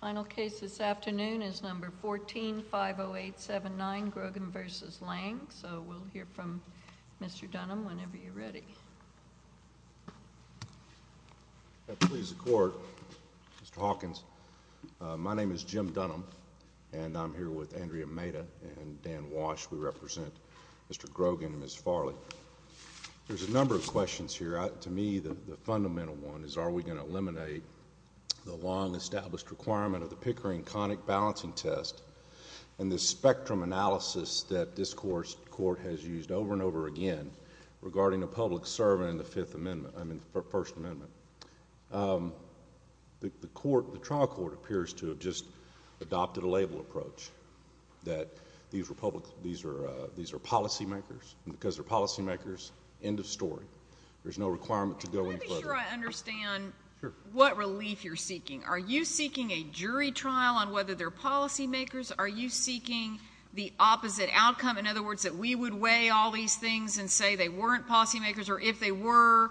Final case this afternoon is number 14-50879, Grogan v. Lange. So we'll hear from Mr. Dunham whenever you're ready. At the pleas of court, Mr. Hawkins, my name is Jim Dunham, and I'm here with Andrea Maeda and Dan Walsh. We represent Mr. Grogan and Ms. Farley. There's a number of questions here. To me, the fundamental one is are we going to eliminate the long-established requirement of the Pickering conic balancing test and the spectrum analysis that this court has used over and over again regarding a public servant in the First Amendment. The trial court appears to have just adopted a label approach that these are policymakers, and because they're policymakers, end of story. There's no requirement to go in further. Let me be sure I understand what relief you're seeking. Are you seeking a jury trial on whether they're policymakers? Are you seeking the opposite outcome, in other words, that we would weigh all these things and say they weren't policymakers, or if they were,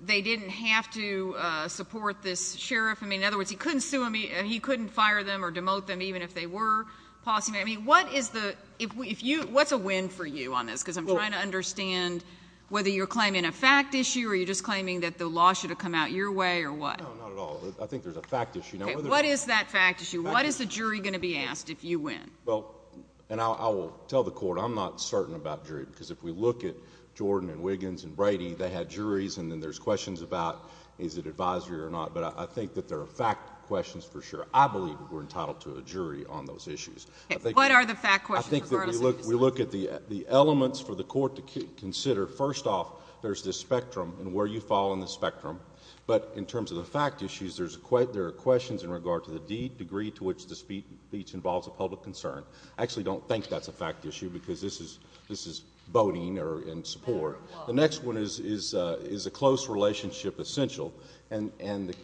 they didn't have to support this sheriff? I mean, in other words, he couldn't sue them, he couldn't fire them or demote them even if they were policymakers. I mean, what is the — if you — what's a win for you on this? Because I'm trying to understand whether you're claiming a fact issue or you're just claiming that the law should have come out your way or what. No, not at all. I think there's a fact issue. Okay. What is that fact issue? What is the jury going to be asked if you win? Well, and I will tell the court I'm not certain about jury, because if we look at Jordan and Wiggins and Brady, they had juries, and then there's questions about is it advisory or not. But I think that there are fact questions for sure. I believe we're entitled to a jury on those issues. Okay. What are the fact questions? I think that we look at the elements for the court to consider. First off, there's the spectrum and where you fall on the spectrum. But in terms of the fact issues, there are questions in regard to the degree to which the speech involves a public concern. I actually don't think that's a fact issue, because this is voting or in support. The next one is, is a close relationship essential? And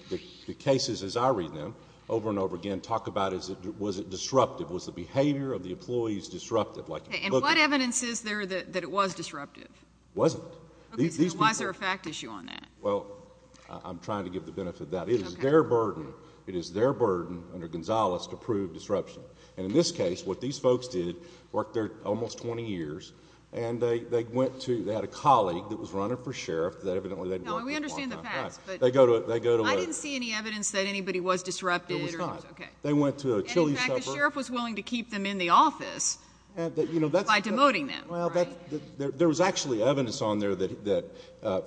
the cases, as I read them over and over again, talk about was it disruptive? Was the behavior of the employees disruptive? Okay. And what evidence is there that it was disruptive? It wasn't. Okay. So why is there a fact issue on that? Well, I'm trying to give the benefit of that. Okay. It is their burden, it is their burden under Gonzales to prove disruption. And in this case, what these folks did, worked there almost 20 years, and they had a colleague that was running for sheriff that evidently they'd worked with a long time. No, we understand the facts. They go to a... I didn't see any evidence that anybody was disrupted. It was not. Okay. And in fact, the sheriff was willing to keep them in the office by demoting them, right? There was actually evidence on there that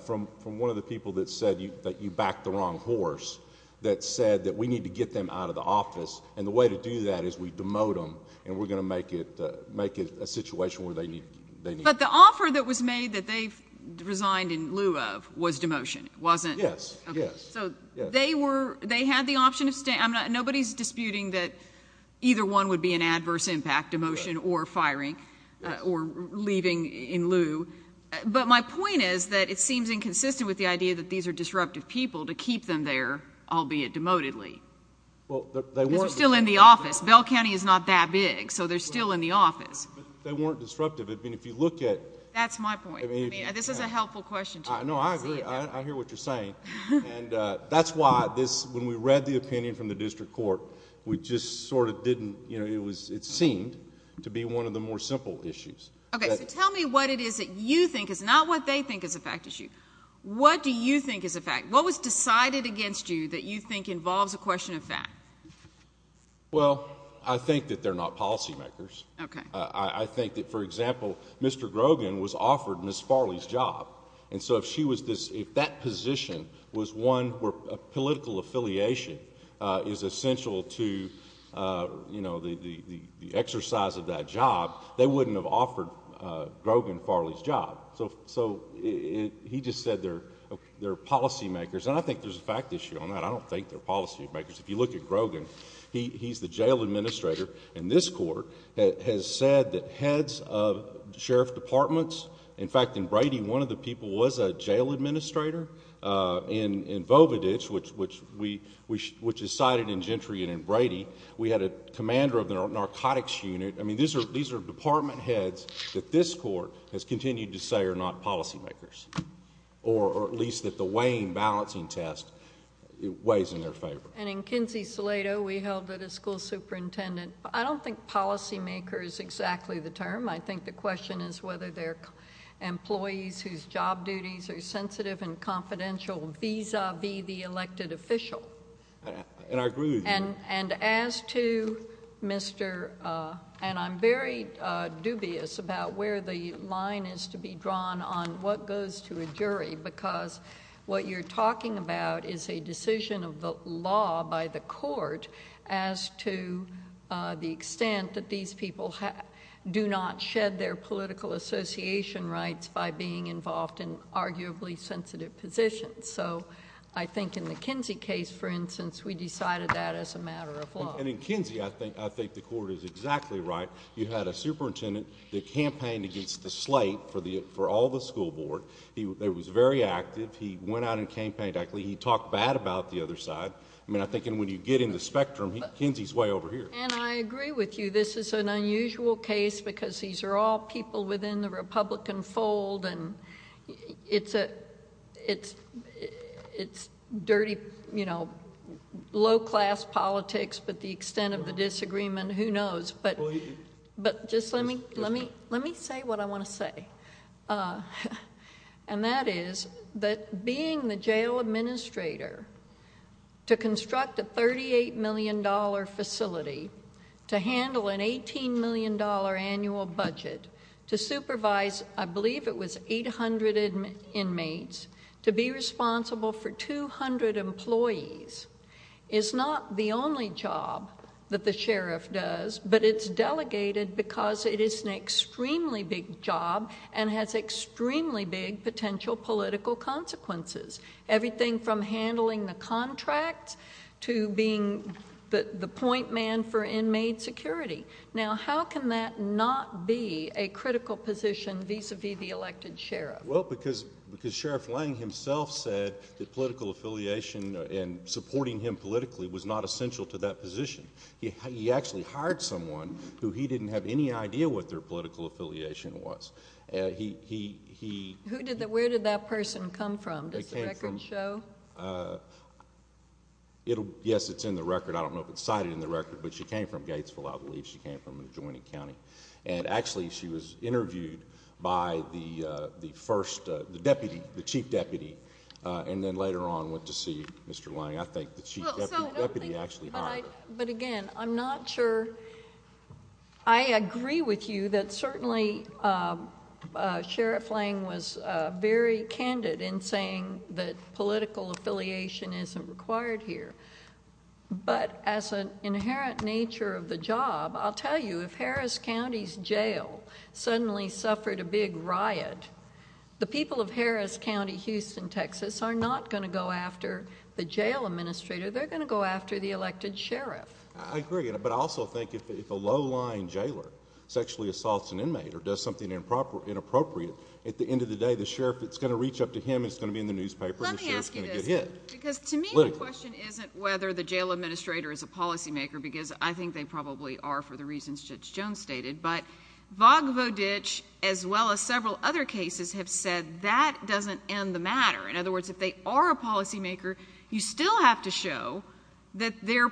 from one of the people that said that you backed the wrong horse that said that we need to get them out of the office, and the way to do that is we demote them, and we're going to make it a situation where they need... But the offer that was made that they resigned in lieu of was demotion, wasn't it? Yes. Okay. So they were... they had the option of... But my point is that it seems inconsistent with the idea that these are disruptive people to keep them there, albeit demotedly, because they're still in the office. Bell County is not that big, so they're still in the office. But they weren't disruptive. I mean, if you look at... That's my point. I mean, this is a helpful question to you. No, I agree. I hear what you're saying. And that's why this... when we read the opinion from the district court, we just sort of didn't... you know, it seemed to be one of the more simple issues. Okay. So tell me what it is that you think is not what they think is a fact issue. What do you think is a fact? What was decided against you that you think involves a question of fact? Well, I think that they're not policymakers. Okay. I think that, for example, Mr. Grogan was offered Ms. Farley's job. And so if she was this... if that position was one where political affiliation is essential to, you know, the exercise of that job, they wouldn't have offered Grogan Farley's job. So he just said they're policymakers. And I think there's a fact issue on that. I don't think they're policymakers. If you look at Grogan, he's the jail administrator. And this court has said that heads of sheriff departments... In fact, in Brady, one of the people was a jail administrator. In Vovaditch, which is cited in Gentry and in Brady, we had a commander of the narcotics unit. I mean, these are department heads that this court has continued to say are not policymakers, or at least that the Wayne balancing test weighs in their favor. And in Kinsey-Salado, we held it as school superintendent. I don't think policymaker is exactly the term. I think the question is whether they're employees whose job duties are sensitive and confidential vis-a-vis the elected official. And I agree with you. And as to Mr.... And I'm very dubious about where the line is to be drawn on what goes to a jury, because what you're talking about is a decision of the law by the court as to the extent that these people do not shed their political association rights by being involved in arguably sensitive positions. I think in the Kinsey case, for instance, we decided that as a matter of law. And in Kinsey, I think the court is exactly right. You had a superintendent that campaigned against the slate for all the school board. He was very active. He went out and campaigned actively. He talked bad about the other side. I mean, I think when you get in the spectrum, Kinsey's way over here. And I agree with you. This is an unusual case because these are all people within the Republican fold. And it's dirty, you know, low-class politics. But the extent of the disagreement, who knows. But just let me say what I want to say. And that is that being the jail administrator to construct a $38 million facility, to handle an $18 million annual budget, to supervise I believe it was 800 inmates, to be responsible for 200 employees is not the only job that the sheriff does, but it's delegated because it is an extremely big job and has extremely big potential political consequences. Everything from handling the contracts to being the point man for inmate security. Now, how can that not be a critical position vis-a-vis the elected sheriff? Well, because Sheriff Lange himself said that political affiliation and supporting him politically was not essential to that position. He actually hired someone who he didn't have any idea what their political affiliation was. Where did that person come from? Does the record show? Yes, it's in the record. I don't know if it's cited in the record, but she came from Gatesville, I believe. She came from Adjoining County. And actually she was interviewed by the first deputy, the chief deputy, and then later on went to see Mr. Lange. I think the chief deputy actually hired her. But again, I'm not sure. I agree with you that certainly Sheriff Lange was very candid in saying that political affiliation isn't required here. But as an inherent nature of the job, I'll tell you if Harris County's jail suddenly suffered a big riot, the people of Harris County, Houston, Texas, are not going to go after the jail administrator. They're going to go after the elected sheriff. I agree. But I also think if a low-lying jailer sexually assaults an inmate or does something inappropriate, at the end of the day the sheriff, it's going to reach up to him, it's going to be in the newspaper, and the sheriff's going to get hit. Let me ask you this, because to me the question isn't whether the jail administrator is a policymaker, because I think they probably are for the reasons Judge Jones stated. But Vogvodich, as well as several other cases, have said that doesn't end the matter. In other words, if they are a policymaker, you still have to show that their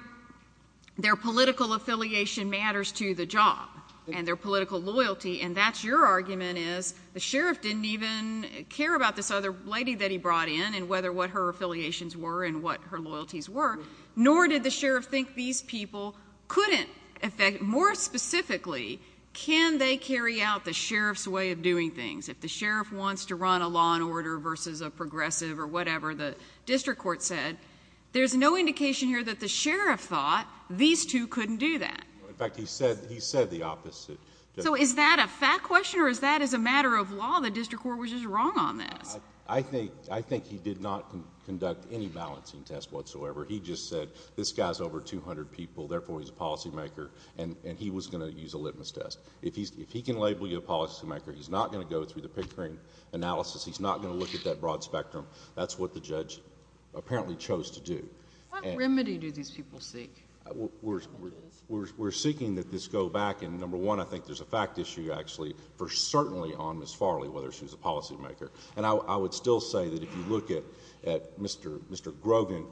political affiliation matters to the job and their political loyalty. And that's your argument is the sheriff didn't even care about this other lady that he brought in and whether what her affiliations were and what her loyalties were, nor did the sheriff think these people couldn't affect more specifically can they carry out the sheriff's way of doing things. If the sheriff wants to run a law and order versus a progressive or whatever the district court said, there's no indication here that the sheriff thought these two couldn't do that. In fact, he said the opposite. So is that a fact question or is that as a matter of law the district court was just wrong on this? I think he did not conduct any balancing test whatsoever. He just said this guy's over 200 people, therefore he's a policymaker, and he was going to use a litmus test. If he can label you a policymaker, he's not going to go through the Pickering analysis. He's not going to look at that broad spectrum. That's what the judge apparently chose to do. What remedy do these people seek? We're seeking that this go back. And number one, I think there's a fact issue actually for certainly on Ms. Farley, whether she was a policymaker. And I would still say that if you look at Mr. Grogan,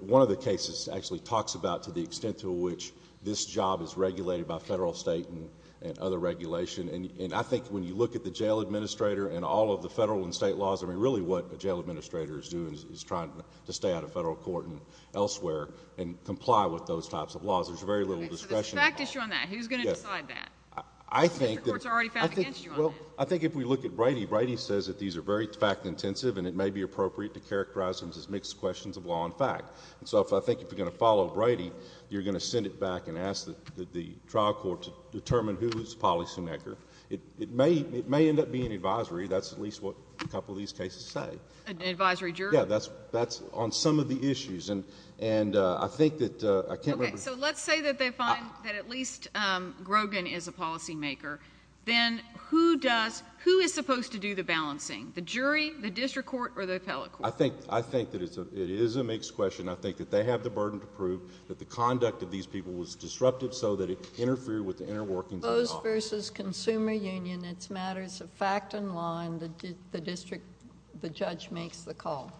one of the cases actually talks about to the extent to which this job is regulated by federal, state, and other regulation. And I think when you look at the jail administrator and all of the federal and state laws, I mean really what a jail administrator is doing is trying to stay out of federal court and elsewhere and comply with those types of laws. There's very little discretion involved. Okay, so there's a fact issue on that. Who's going to decide that? I think that— District courts are already found against you on that. Well, I think if we look at Brady, Brady says that these are very fact intensive and it may be appropriate to characterize them as mixed questions of law and fact. And so I think if you're going to follow Brady, you're going to send it back and ask the trial court to determine who is the policymaker. It may end up being an advisory. That's at least what a couple of these cases say. An advisory jury? Yeah, that's on some of the issues. And I think that— Okay, so let's say that they find that at least Grogan is a policymaker. Then who does—who is supposed to do the balancing? The jury? The district court? Or the appellate court? I think that it is a mixed question. I think that they have the burden to prove that the conduct of these people was disruptive so that it interfered with the inner workings of the law. Suppose versus consumer union it's matters of fact and law and the district, the judge makes the call.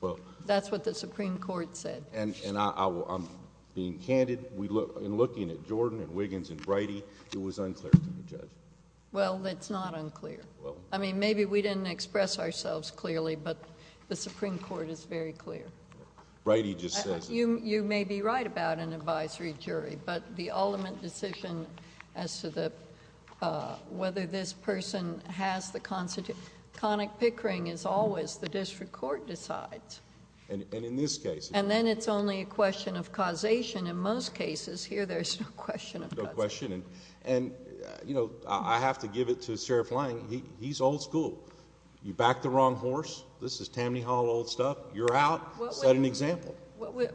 Well— That's what the Supreme Court said. And I'm being candid. In looking at Jordan and Wiggins and Brady, it was unclear to the judge. Well, it's not unclear. Well— I mean, maybe we didn't express ourselves clearly, but the Supreme Court is very clear. Brady just says— You may be right about an advisory jury, but the ultimate decision as to whether this person has the... conic pickering is always the district court decides. And in this case— And then it's only a question of causation. In most cases, here there's no question of causation. No question. And, you know, I have to give it to Sheriff Lange. He's old school. You back the wrong horse, this is Tammany Hall old stuff. You're out. Set an example.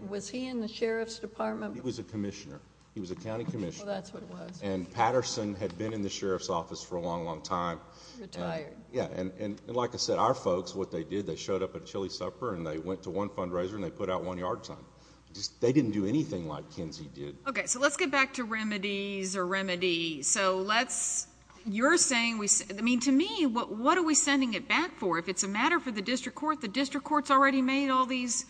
Was he in the sheriff's department? He was a commissioner. He was a county commissioner. Well, that's what it was. And Patterson had been in the sheriff's office for a long, long time. Retired. Yeah. And like I said, our folks, what they did, they showed up at a chilly supper and they went to one fundraiser and they put out one yard sign. They didn't do anything like Kinsey did. Okay. So let's get back to remedies or remedies. So let's... you're saying... I mean, to me, what are we sending it back for? If it's a matter for the district court, the district court's already made all these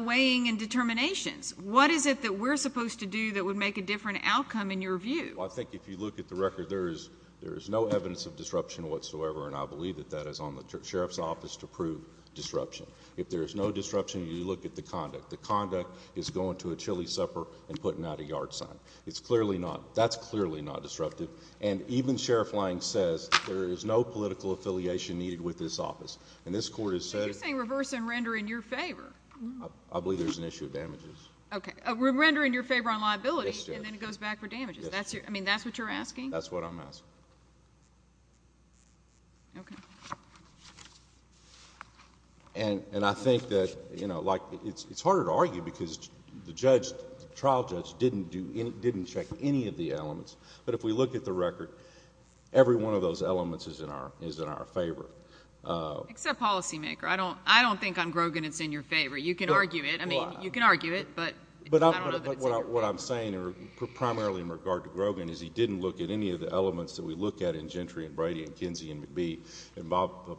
weighing and determinations. What is it that we're supposed to do that would make a different outcome in your view? Well, I think if you look at the record, there is no evidence of disruption whatsoever, and I believe that that is on the sheriff's office to prove disruption. If there is no disruption, you look at the conduct. The conduct is going to a chilly supper and putting out a yard sign. It's clearly not... that's clearly not disruptive. And even Sheriff Lange says there is no political affiliation needed with this office. And this court has said... But you're saying reverse and render in your favor. I believe there's an issue of damages. Okay. Render in your favor on liability... Yes, Judge.... and then it goes back for damages. Yes. I mean, that's what you're asking? That's what I'm asking. Okay. And I think that it's harder to argue because the trial judge didn't check any of the elements. But if we look at the record, every one of those elements is in our favor. Except policymaker. I don't think on Grogan it's in your favor. You can argue it. I mean, you can argue it, but I don't know that it's in your favor. But what I'm saying primarily in regard to Grogan is he didn't look at any of the elements that we look at in Gentry and Brady and Kinsey and McBee and Bob...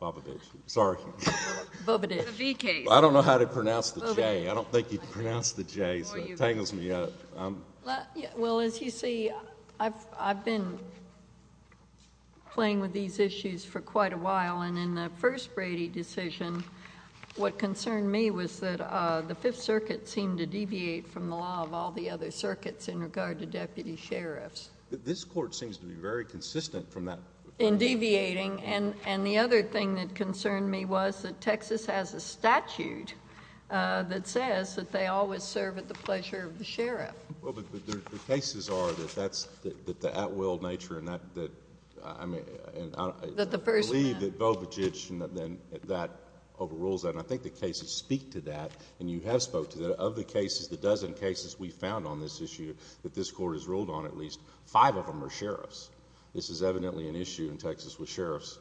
Bobovich. Sorry. Bobadich. The V case. I don't know how to pronounce the J. I don't think you'd pronounce the J, so it tangles me up. Well, as you see, I've been playing with these issues for quite a while. And in the first Brady decision, what concerned me was that the Fifth Circuit seemed to deviate from the law of all the other circuits in regard to deputy sheriffs. This Court seems to be very consistent from that... In deviating. And the other thing that concerned me was that Texas has a statute that says that they always serve at the pleasure of the sheriff. Well, but the cases are that that's the at-will nature and that... That the person... I believe that Bobadich and that overrules that. And I think the cases speak to that. And you have spoke to that. Of the cases, the dozen cases we've found on this issue that this Court has ruled on at least five of them are sheriffs. This is evidently an issue in Texas with sheriffs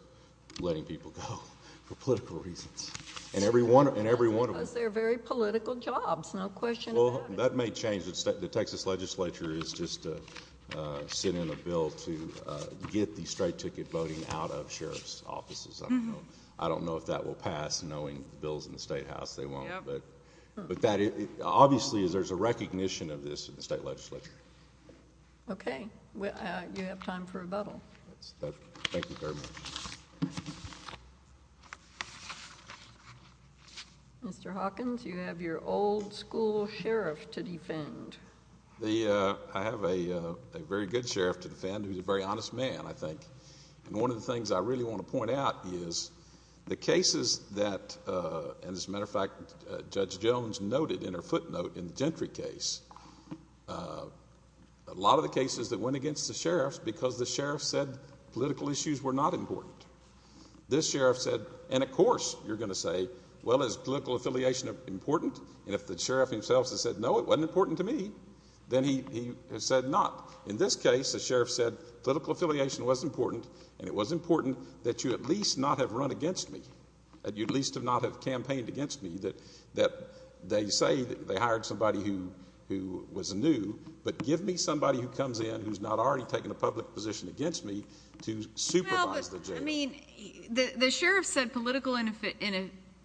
letting people go for political reasons. And every one... That's because they're very political jobs. No question about it. Well, that may change. The Texas legislature is just sending a bill to get the straight ticket voting out of sheriff's offices. I don't know. I don't know if that will pass knowing the bills in the Statehouse. They won't. But that... Obviously, there's a recognition of this in the state legislature. Okay. You have time for rebuttal. Thank you very much. Mr. Hawkins, you have your old school sheriff to defend. I have a very good sheriff to defend who's a very honest man, I think. And one of the things I really want to point out is the cases that, as a matter of fact, Judge Jones noted in her footnote in the Gentry case, a lot of the cases that went against the sheriffs because the sheriff said political issues were not important. This sheriff said... And, of course, you're going to say, well, is political affiliation important? And if the sheriff himself has said, no, it wasn't important to me, then he has said not. In this case, the sheriff said political affiliation was important, and it was important that you at least not have run against me, that you at least not have campaigned against me, that they say they hired somebody who was new, but give me somebody who comes in who's not already taken a public position against me to supervise the jail. I mean, the sheriff said political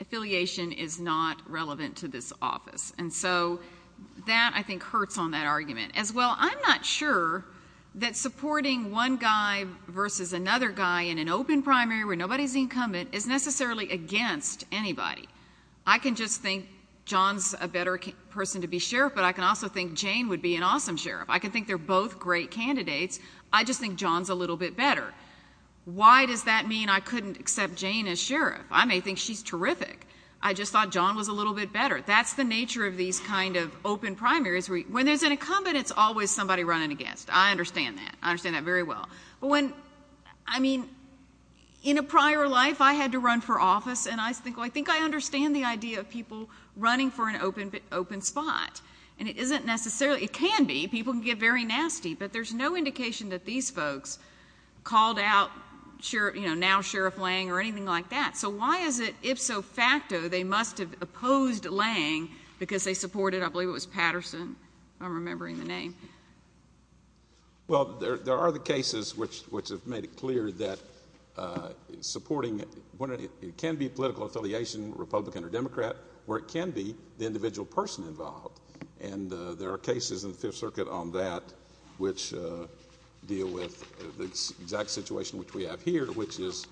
affiliation is not relevant to this office. And so that, I think, hurts on that argument. As well, I'm not sure that supporting one guy versus another guy in an open primary where nobody's incumbent is necessarily against anybody. I can just think John's a better person to be sheriff, but I can also think Jane would be an awesome sheriff. I can think they're both great candidates. I just think John's a little bit better. Why does that mean I couldn't accept Jane as sheriff? I may think she's terrific. I just thought John was a little bit better. That's the nature of these kind of open primaries. When there's an incumbent, it's always somebody running against. I understand that. I understand that very well. But when, I mean, in a prior life, I had to run for office, and I think I understand the idea of people running for an open spot. And it isn't necessarily, it can be, people can get very nasty, but there's no indication that these folks called out, you know, now Sheriff Lange or anything like that. So why is it ifso facto they must have opposed Lange because they supported, I believe it was Patterson, if I'm remembering the name. Well, there are the cases which have made it clear that supporting, it can be political affiliation, Republican or Democrat, or it can be the individual person involved. And there are cases in the Fifth Circuit on that which deal with the exact situation which we have here, which is.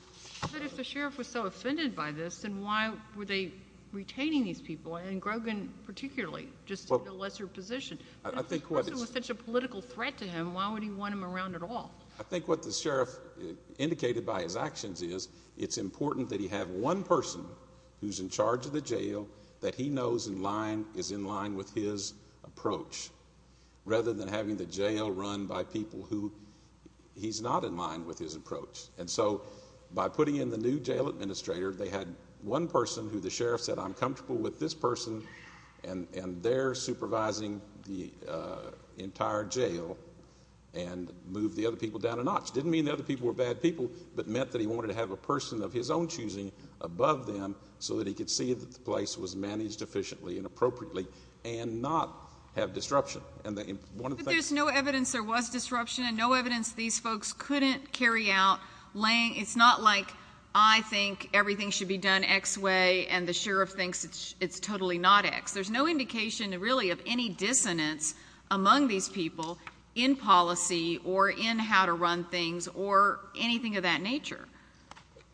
But if the sheriff was so offended by this, then why were they retaining these people, and Grogan particularly just in a lesser position? If the person was such a political threat to him, why would he want them around at all? I think what the sheriff indicated by his actions is it's important that he have one person who's in charge of the jail that he knows is in line with his approach, rather than having the jail run by people who he's not in line with his approach. And so by putting in the new jail administrator, they had one person who the sheriff said, I'm comfortable with this person, and they're supervising the entire jail and moved the other people down a notch. It didn't mean the other people were bad people, but it meant that he wanted to have a person of his own choosing above them so that he could see that the place was managed efficiently and appropriately and not have disruption. But there's no evidence there was disruption and no evidence these folks couldn't carry out Lange. It's not like I think everything should be done X way and the sheriff thinks it's totally not X. There's no indication, really, of any dissonance among these people in policy or in how to run things or anything of that nature.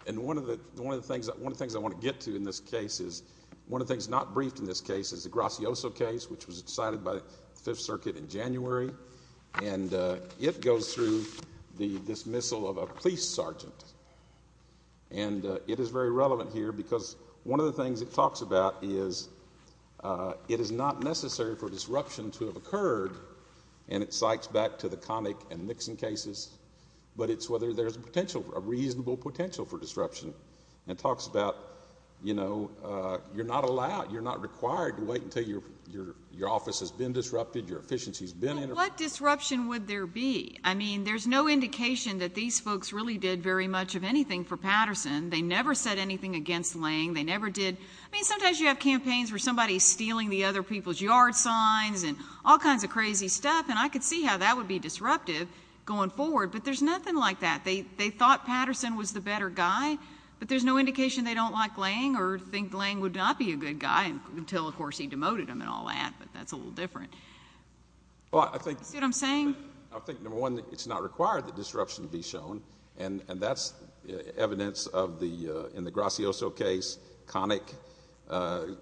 And one of the things I want to get to in this case is one of the things not briefed in this case is the Gracioso case, and it goes through the dismissal of a police sergeant, and it is very relevant here because one of the things it talks about is it is not necessary for disruption to have occurred, and it cites back to the Connick and Nixon cases, but it's whether there's a potential, a reasonable potential for disruption. It talks about, you know, you're not allowed, you're not required to wait until your office has been disrupted, your efficiency has been interrupted. What disruption would there be? I mean, there's no indication that these folks really did very much of anything for Patterson. They never said anything against Lange. They never did. I mean, sometimes you have campaigns where somebody is stealing the other people's yard signs and all kinds of crazy stuff, and I could see how that would be disruptive going forward, but there's nothing like that. They thought Patterson was the better guy, but there's no indication they don't like Lange or think Lange would not be a good guy until, of course, he demoted him and all that, but that's a little different. That's what I'm saying. I think, number one, it's not required that disruption be shown, and that's evidence in the Gracioso case, Connick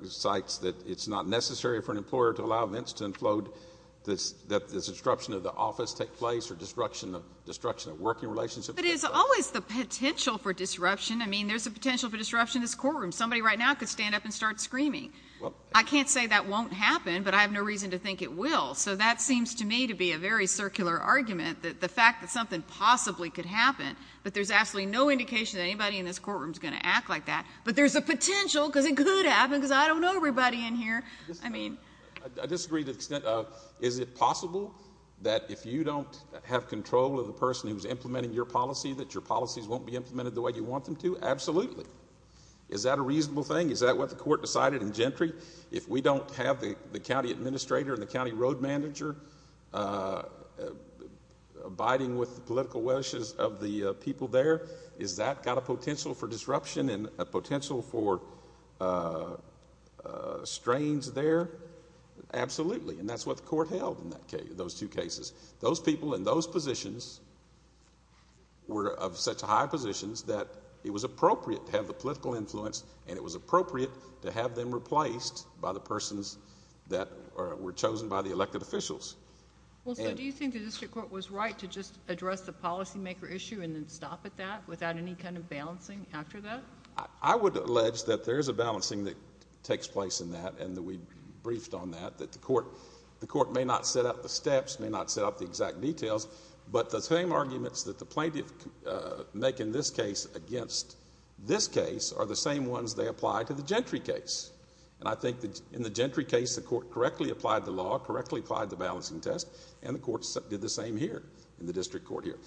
cites that it's not necessary for an employer to allow events to inflow, that this disruption of the office take place or disruption of working relationships. But it's always the potential for disruption. I mean, there's a potential for disruption in this courtroom. Somebody right now could stand up and start screaming. I can't say that won't happen, but I have no reason to think it will. So that seems to me to be a very circular argument, the fact that something possibly could happen, but there's absolutely no indication that anybody in this courtroom is going to act like that. But there's a potential because it could happen because I don't know everybody in here. I mean. I disagree to the extent of is it possible that if you don't have control of the person who's implementing your policy, that your policies won't be implemented the way you want them to? Absolutely. Is that a reasonable thing? Is that what the court decided in Gentry? If we don't have the county administrator and the county road manager abiding with the political wishes of the people there, has that got a potential for disruption and a potential for strains there? Absolutely. And that's what the court held in those two cases. Those people in those positions were of such high positions that it was appropriate to have the political influence and it was appropriate to have them replaced by the persons that were chosen by the elected officials. Well, so do you think the district court was right to just address the policymaker issue and then stop at that without any kind of balancing after that? I would allege that there is a balancing that takes place in that and that we briefed on that, that the court may not set out the steps, may not set out the exact details, but the same arguments that the plaintiff make in this case against this case are the same ones they apply to the Gentry case. And I think in the Gentry case, the court correctly applied the law, correctly applied the balancing test, and the court did the same here in the district court here.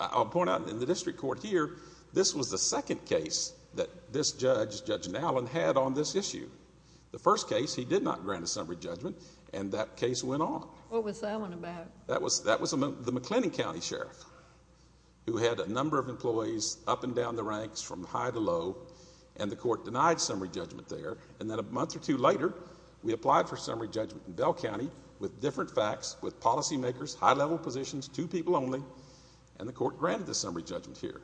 I'll point out in the district court here, this was the second case that this judge, Judge Nowlin, had on this issue. The first case, he did not grant a summary judgment and that case went on. What was that one about? That was the McLennan County Sheriff who had a number of employees up and down the ranks from high to low and the court denied summary judgment there. And then a month or two later, we applied for summary judgment in Bell County with different facts, with policymakers, high-level positions, two people only, and the court granted the summary judgment here.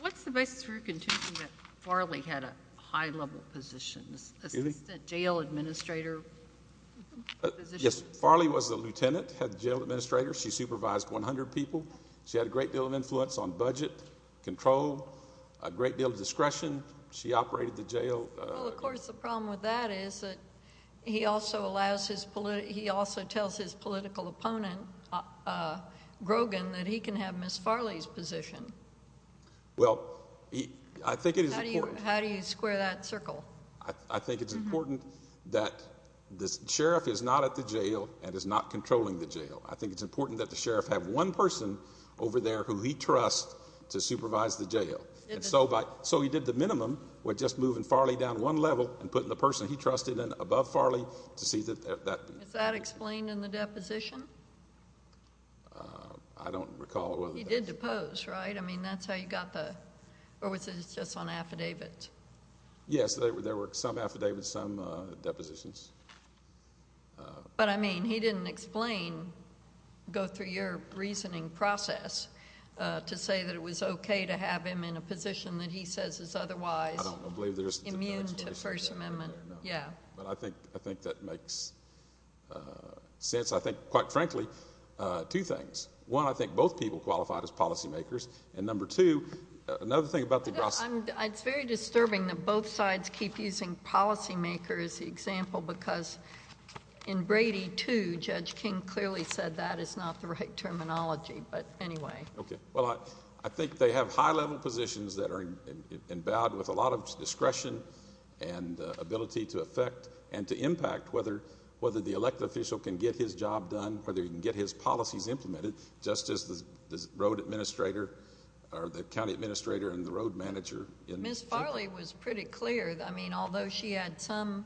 What's the basis for your contention that Farley had a high-level position, a jail administrator position? Yes, Farley was a lieutenant, had a jail administrator. She supervised 100 people. She had a great deal of influence on budget, control, a great deal of discretion. She operated the jail. Well, of course, the problem with that is that he also tells his political opponent, Grogan, that he can have Ms. Farley's position. Well, I think it is important. How do you square that circle? I think it's important that the sheriff is not at the jail and is not controlling the jail. I think it's important that the sheriff have one person over there who he trusts to supervise the jail. So he did the minimum with just moving Farley down one level and putting the person he trusted in above Farley to see if that... Is that explained in the deposition? I don't recall whether that's... He did depose, right? I mean, that's how you got the... or was it just on affidavit? Yes, there were some affidavits, some depositions. But, I mean, he didn't explain, go through your reasoning process, to say that it was okay to have him in a position that he says is otherwise... I don't believe there's...... immune to the First Amendment. Yeah. But I think that makes sense. I think, quite frankly, two things. One, I think both people qualified as policy makers. And number two, another thing about the... It's very disturbing that both sides keep using policy makers as the example because in Brady, too, Judge King clearly said that is not the right terminology. But anyway... Okay. Well, I think they have high-level positions that are endowed with a lot of discretion and ability to affect and to impact whether the elected official can get his job done...... or he can get his policies implemented, just as the road administrator or the county administrator and the road manager... Ms. Farley was pretty clear. I mean, although she had some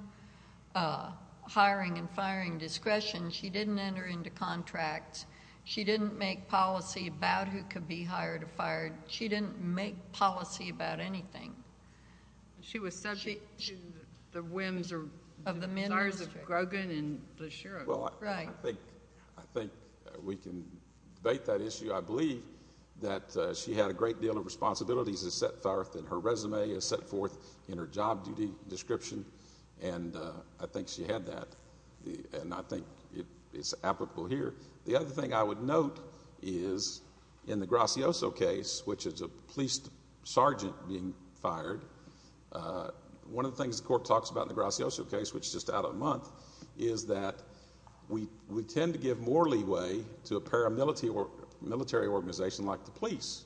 hiring and firing discretion, she didn't enter into contracts. She didn't make policy about who could be hired or fired. She didn't make policy about anything. She was subject to the whims of... Of the minister... the desires of Grogan and Blaschero. Right. I think we can debate that issue. I believe that she had a great deal of responsibilities set forth in her resume, set forth in her job duty description. And I think she had that. And I think it's applicable here. The other thing I would note is in the Gracioso case, which is a police sergeant being fired... One of the things the court talks about in the Gracioso case, which is just out a month, is that we tend to give more leeway to a paramilitary organization like the police.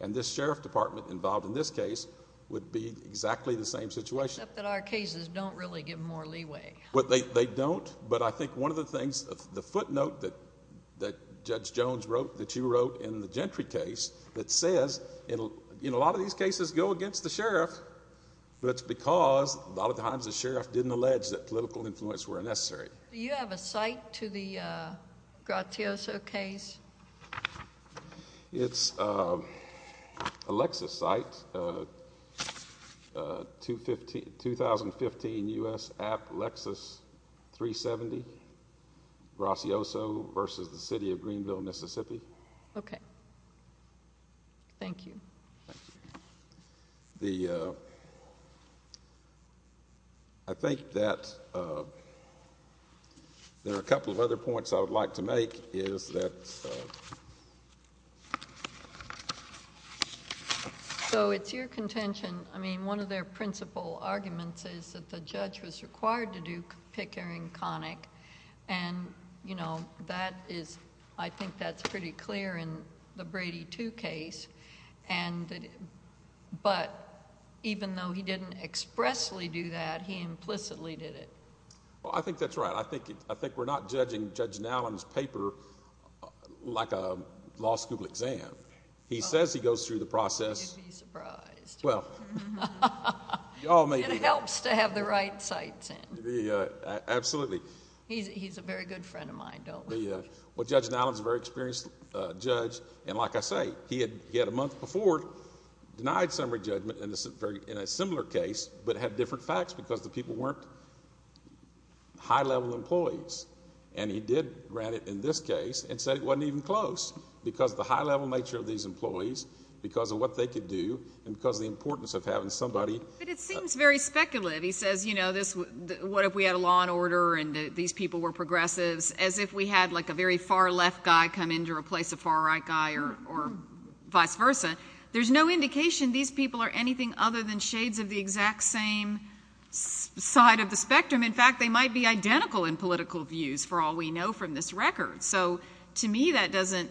And this sheriff department involved in this case would be exactly the same situation. Except that our cases don't really give more leeway. They don't. But I think one of the things... the footnote that Judge Jones wrote, that you wrote in the Gentry case... That says, in a lot of these cases, go against the sheriff. But it's because, a lot of times, the sheriff didn't allege that political influence were necessary. Do you have a site to the Gracioso case? It's a Lexus site. 2015 U.S. App Lexus 370. Gracioso versus the city of Greenville, Mississippi. Okay. Thank you. Thank you. The... I think that there are a couple of other points I would like to make, is that... So, it's your contention... I mean, one of their principal arguments is that the judge was required to do pickering conic. And, you know, that is... I think that's pretty clear in the Brady 2 case. But, even though he didn't expressly do that, he implicitly did it. Well, I think that's right. I think we're not judging Judge Nowlin's paper like a law school exam. He says he goes through the process... You'd be surprised. Well... It helps to have the right sites in. Absolutely. He's a very good friend of mine, don't we? Well, Judge Nowlin's a very experienced judge. And, like I say, he had, a month before, denied summary judgment in a similar case, but had different facts because the people weren't high-level employees. And, he did grant it in this case and said it wasn't even close because of the high-level nature of these employees, because of what they could do, and because of the importance of having somebody... But, it seems very speculative. He says, you know, what if we had a law and order and these people were progressives, as if we had like a very far-left guy come in to replace a far-right guy, or vice versa. There's no indication these people are anything other than shades of the exact same side of the spectrum. In fact, they might be identical in political views, for all we know from this record. So, to me, that doesn't...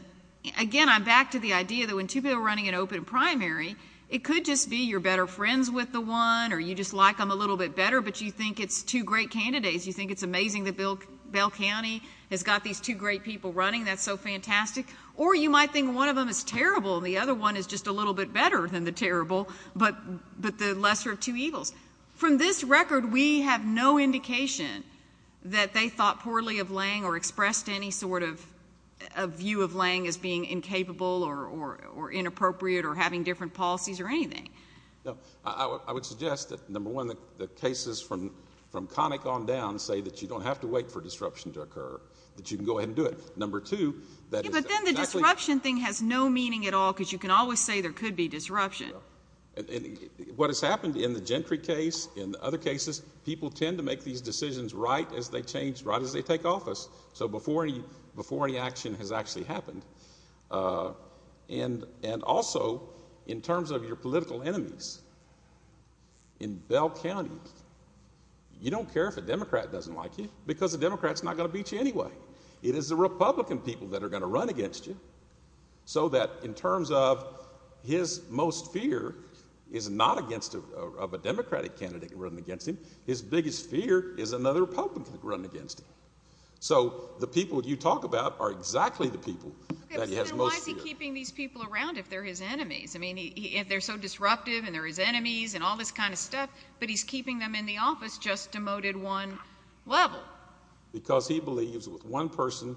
Again, I'm back to the idea that when two people are running an open primary, it could just be you're better friends with the one, or you just like them a little bit better, but you think it's two great candidates. You think it's amazing that Bell County has got these two great people running. That's so fantastic. Or, you might think one of them is terrible and the other one is just a little bit better than the terrible, but the lesser of two evils. From this record, we have no indication that they thought poorly of Lange or expressed any sort of view of Lange as being incapable or inappropriate or having different policies or anything. I would suggest that, number one, the cases from Connick on down say that you don't have to wait for disruption to occur, that you can go ahead and do it. Number two, that is... Yeah, but then the disruption thing has no meaning at all, because you can always say there could be disruption. What has happened in the Gentry case, in other cases, people tend to make these decisions right as they change, right as they take office, so before any action has actually happened. And also, in terms of your political enemies, in Bell County, you don't care if a Democrat doesn't like you, because a Democrat is not going to beat you anyway. It is the Republican people that are going to run against you, so that in terms of his most fear is not of a Democratic candidate running against him. His biggest fear is another Republican running against him. So the people you talk about are exactly the people that he has most fear of. Okay, but then why is he keeping these people around if they're his enemies? I mean, they're so disruptive and they're his enemies and all this kind of stuff, but he's keeping them in the office, just demoted one level. Why? Because he believes with one person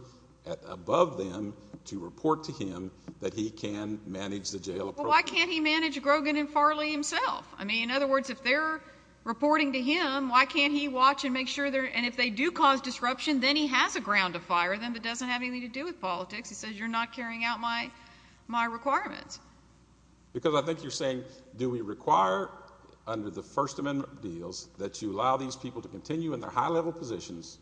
above them to report to him that he can manage the jail approach. Well, why can't he manage Grogan and Farley himself? I mean, in other words, if they're reporting to him, why can't he watch and make sure they're— and if they do cause disruption, then he has a ground to fire them that doesn't have anything to do with politics. He says, you're not carrying out my requirements. Because I think you're saying, do we require under the First Amendment deals that you allow these people to continue in their high-level positions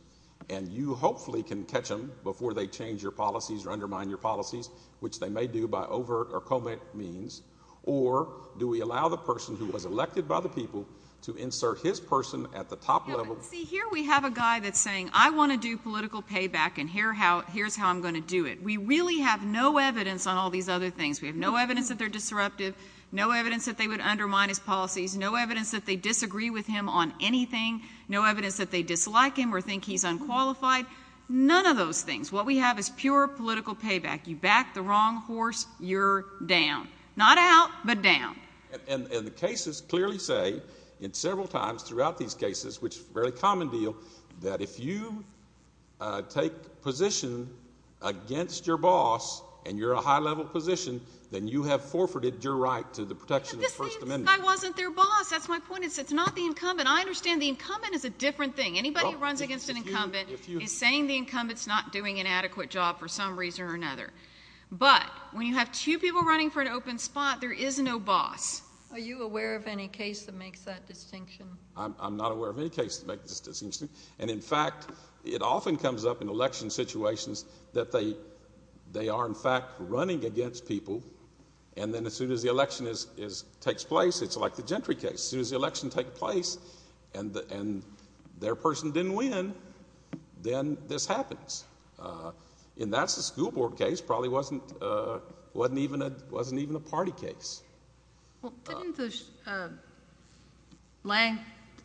and you hopefully can catch them before they change your policies or undermine your policies, which they may do by overt or covert means, or do we allow the person who was elected by the people to insert his person at the top level? See, here we have a guy that's saying, I want to do political payback, and here's how I'm going to do it. We really have no evidence on all these other things. We have no evidence that they're disruptive, no evidence that they would undermine his policies, no evidence that they disagree with him on anything, no evidence that they dislike him or think he's unqualified. None of those things. What we have is pure political payback. You back the wrong horse, you're down. Not out, but down. And the cases clearly say several times throughout these cases, which is a very common deal, that if you take position against your boss and you're a high-level position, then you have forfeited your right to the protection of the First Amendment. See, this guy wasn't their boss. That's my point. It's not the incumbent. I understand the incumbent is a different thing. Anybody who runs against an incumbent is saying the incumbent's not doing an adequate job for some reason or another. But when you have two people running for an open spot, there is no boss. Are you aware of any case that makes that distinction? I'm not aware of any case that makes this distinction. And, in fact, it often comes up in election situations that they are, in fact, running against people, and then as soon as the election takes place, it's like the Gentry case. As soon as the election takes place and their person didn't win, then this happens. And that's a school board case. It probably wasn't even a party case. Well, didn't Lang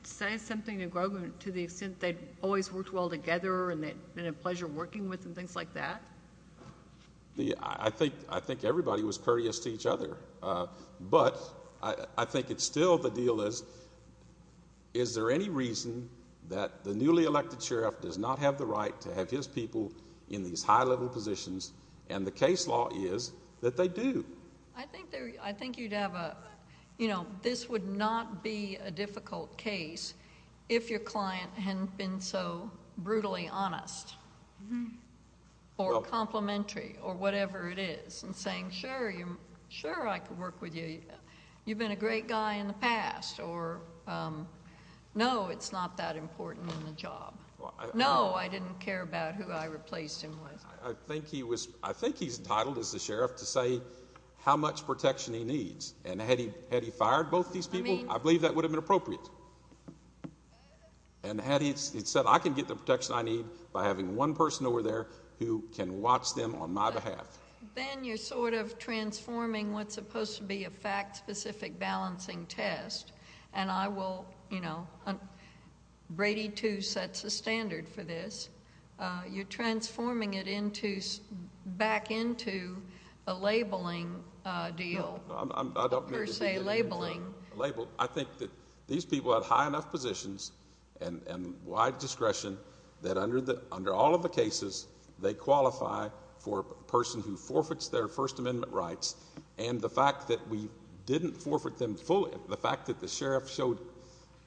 say something to Grogan to the extent they'd always worked well together and they'd been a pleasure working with and things like that? I think everybody was courteous to each other, but I think it's still the deal is, is there any reason that the newly elected sheriff does not have the right to have his people in these high-level positions, and the case law is that they do. I think you'd have a, you know, this would not be a difficult case if your client hadn't been so brutally honest or complimentary or whatever it is and saying, sure, I can work with you. You've been a great guy in the past. Or, no, it's not that important in the job. No, I didn't care about who I replaced him with. I think he's entitled, as the sheriff, to say how much protection he needs. And had he fired both these people, I believe that would have been appropriate. And had he said, I can get the protection I need by having one person over there who can watch them on my behalf. Then you're sort of transforming what's supposed to be a fact-specific balancing test, and I will, you know, Brady II sets a standard for this. You're transforming it back into a labeling deal, per se labeling. I think that these people have high enough positions and wide discretion that under all of the cases, they qualify for a person who forfeits their First Amendment rights, and the fact that we didn't forfeit them fully, the fact that the sheriff showed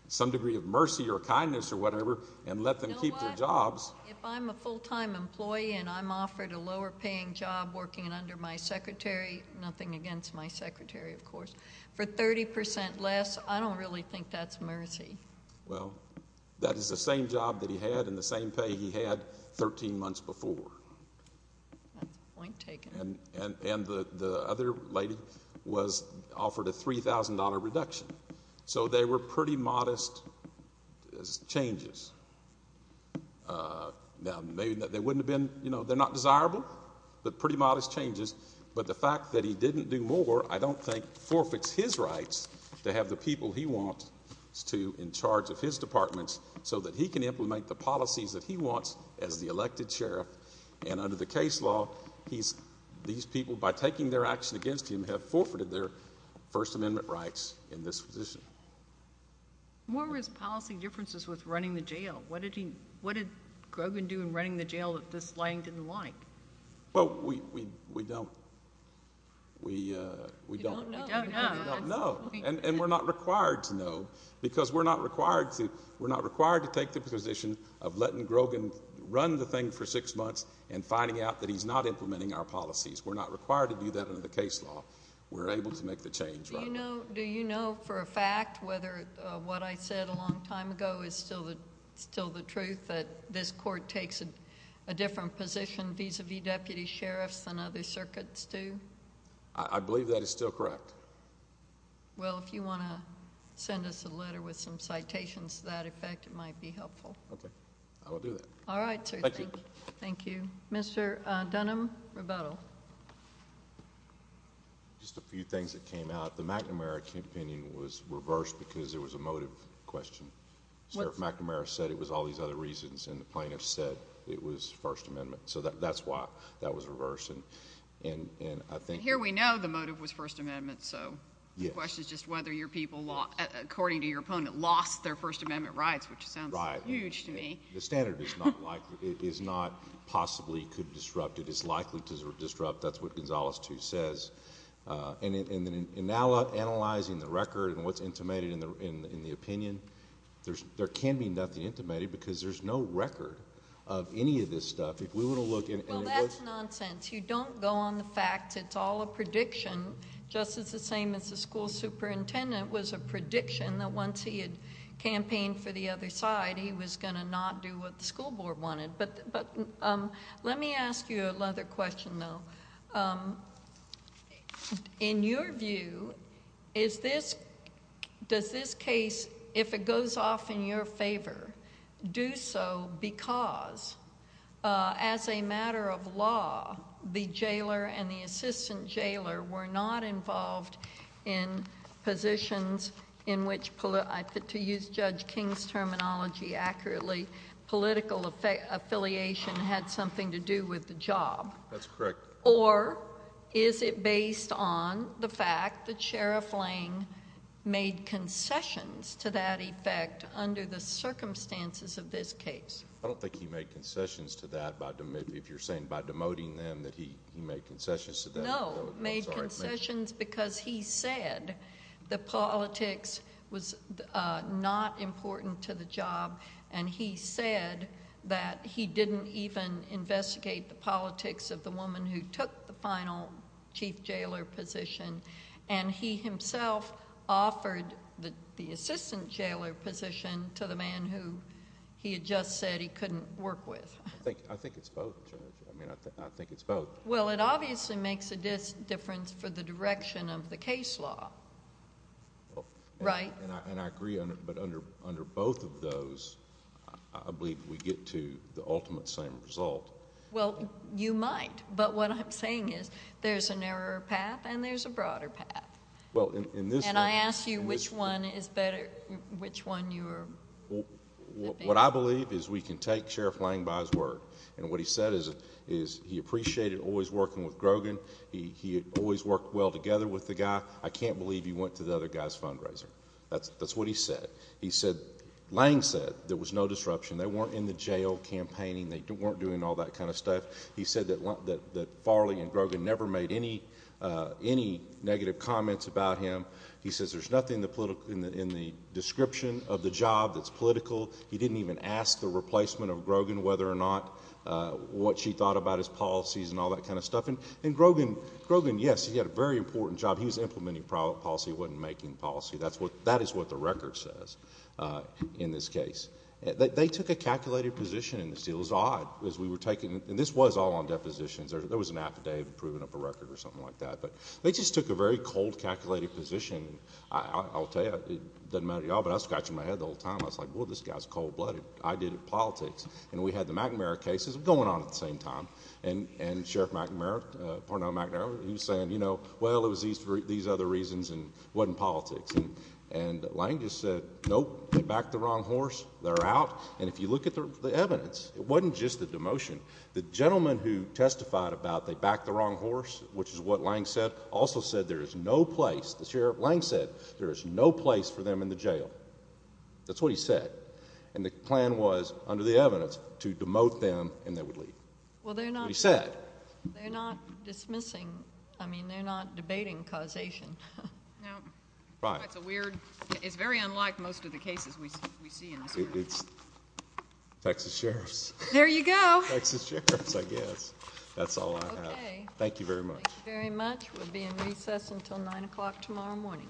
some degree of mercy or kindness or whatever and let them keep their jobs. If I'm a full-time employee and I'm offered a lower-paying job working under my secretary, nothing against my secretary, of course, for 30 percent less, I don't really think that's mercy. Well, that is the same job that he had and the same pay he had 13 months before. That's point taken. And the other lady was offered a $3,000 reduction. So they were pretty modest changes. Now, they wouldn't have been, you know, they're not desirable, but pretty modest changes. But the fact that he didn't do more, I don't think, forfeits his rights to have the people he wants to in charge of his departments so that he can implement the policies that he wants as the elected sheriff. And under the case law, these people, by taking their action against him, have forfeited their First Amendment rights in this position. What were his policy differences with running the jail? What did Grogan do in running the jail that this laying didn't like? Well, we don't know. And we're not required to know because we're not required to take the position of letting Grogan run the thing for six months and finding out that he's not implementing our policies. We're not required to do that under the case law. We're able to make the change right now. Do you know for a fact whether what I said a long time ago is still the truth, that this court takes a different position vis-a-vis deputy sheriffs than other circuits do? I believe that is still correct. Well, if you want to send us a letter with some citations to that effect, it might be helpful. Okay. I will do that. All right, sir. Thank you. Mr. Dunham, rebuttal. Just a few things that came out. The McNamara opinion was reversed because there was a motive question. Sheriff McNamara said it was all these other reasons, and the plaintiff said it was First Amendment. So that's why that was reversed. And I think here we know the motive was First Amendment, so the question is just whether your people, according to your opponent, lost their First Amendment rights, which sounds huge to me. The standard is not possibly could disrupt. It is likely to disrupt. That's what Gonzales 2 says. And now analyzing the record and what's intimated in the opinion, there can be nothing intimated because there's no record of any of this stuff. If we were to look and it was... Well, that's nonsense. You don't go on the facts. It's all a prediction. Just as the same as the school superintendent was a prediction that once he had campaigned for the other side, he was going to not do what the school board wanted. But let me ask you another question, though. In your view, is this... does this case, if it goes off in your favor, do so because, as a matter of law, the jailer and the assistant jailer were not involved in positions in which, to use Judge King's terminology accurately, political affiliation had something to do with the job? That's correct. Or is it based on the fact that Sheriff Lang made concessions to that effect under the circumstances of this case? I don't think he made concessions to that. If you're saying by demoting them that he made concessions to that... No, made concessions because he said the politics was not important to the job, and he said that he didn't even investigate the politics of the woman who took the final chief jailer position. And he himself offered the assistant jailer position to the man who he had just said he couldn't work with. I think it's both, Judge. I mean, I think it's both. Well, it obviously makes a difference for the direction of the case law, right? And I agree, but under both of those, I believe we get to the ultimate same result. Well, you might, but what I'm saying is there's a narrower path and there's a broader path. Well, in this case... And I ask you which one is better, which one you're... What I believe is we can take Sheriff Lang by his word. And what he said is he appreciated always working with Grogan. He had always worked well together with the guy. I can't believe he went to the other guy's fundraiser. That's what he said. Lang said there was no disruption. They weren't in the jail campaigning. They weren't doing all that kind of stuff. He said that Farley and Grogan never made any negative comments about him. He says there's nothing in the description of the job that's political. He didn't even ask the replacement of Grogan whether or not what she thought about his policies and all that kind of stuff. And Grogan, yes, he had a very important job. He was implementing policy. He wasn't making policy. That is what the record says in this case. They took a calculated position in this deal. It was odd because we were taking... And this was all on depositions. There was an affidavit proving up a record or something like that. But they just took a very cold, calculated position. I'll tell you, it doesn't matter to you all, but I was scratching my head the whole time. I was like, well, this guy's cold-blooded. I did politics. And we had the McNamara cases going on at the same time. And Sheriff McNamara, Parnell McNamara, he was saying, you know, well, it was these other reasons and it wasn't politics. And Lange just said, nope, they backed the wrong horse. They're out. And if you look at the evidence, it wasn't just the demotion. The gentleman who testified about they backed the wrong horse, which is what Lange said, also said there is no place. The Sheriff Lange said there is no place for them in the jail. That's what he said. And the plan was, under the evidence, to demote them and they would leave. Well, they're not... But he said. They're not dismissing... I mean, they're not debating causation. No. That's a weird... It's very unlike most of the cases we see in this room. It's Texas sheriffs. There you go. Texas sheriffs, I guess. That's all I have. Okay. Thank you very much. Thank you very much. We'll be in recess until 9 o'clock tomorrow morning.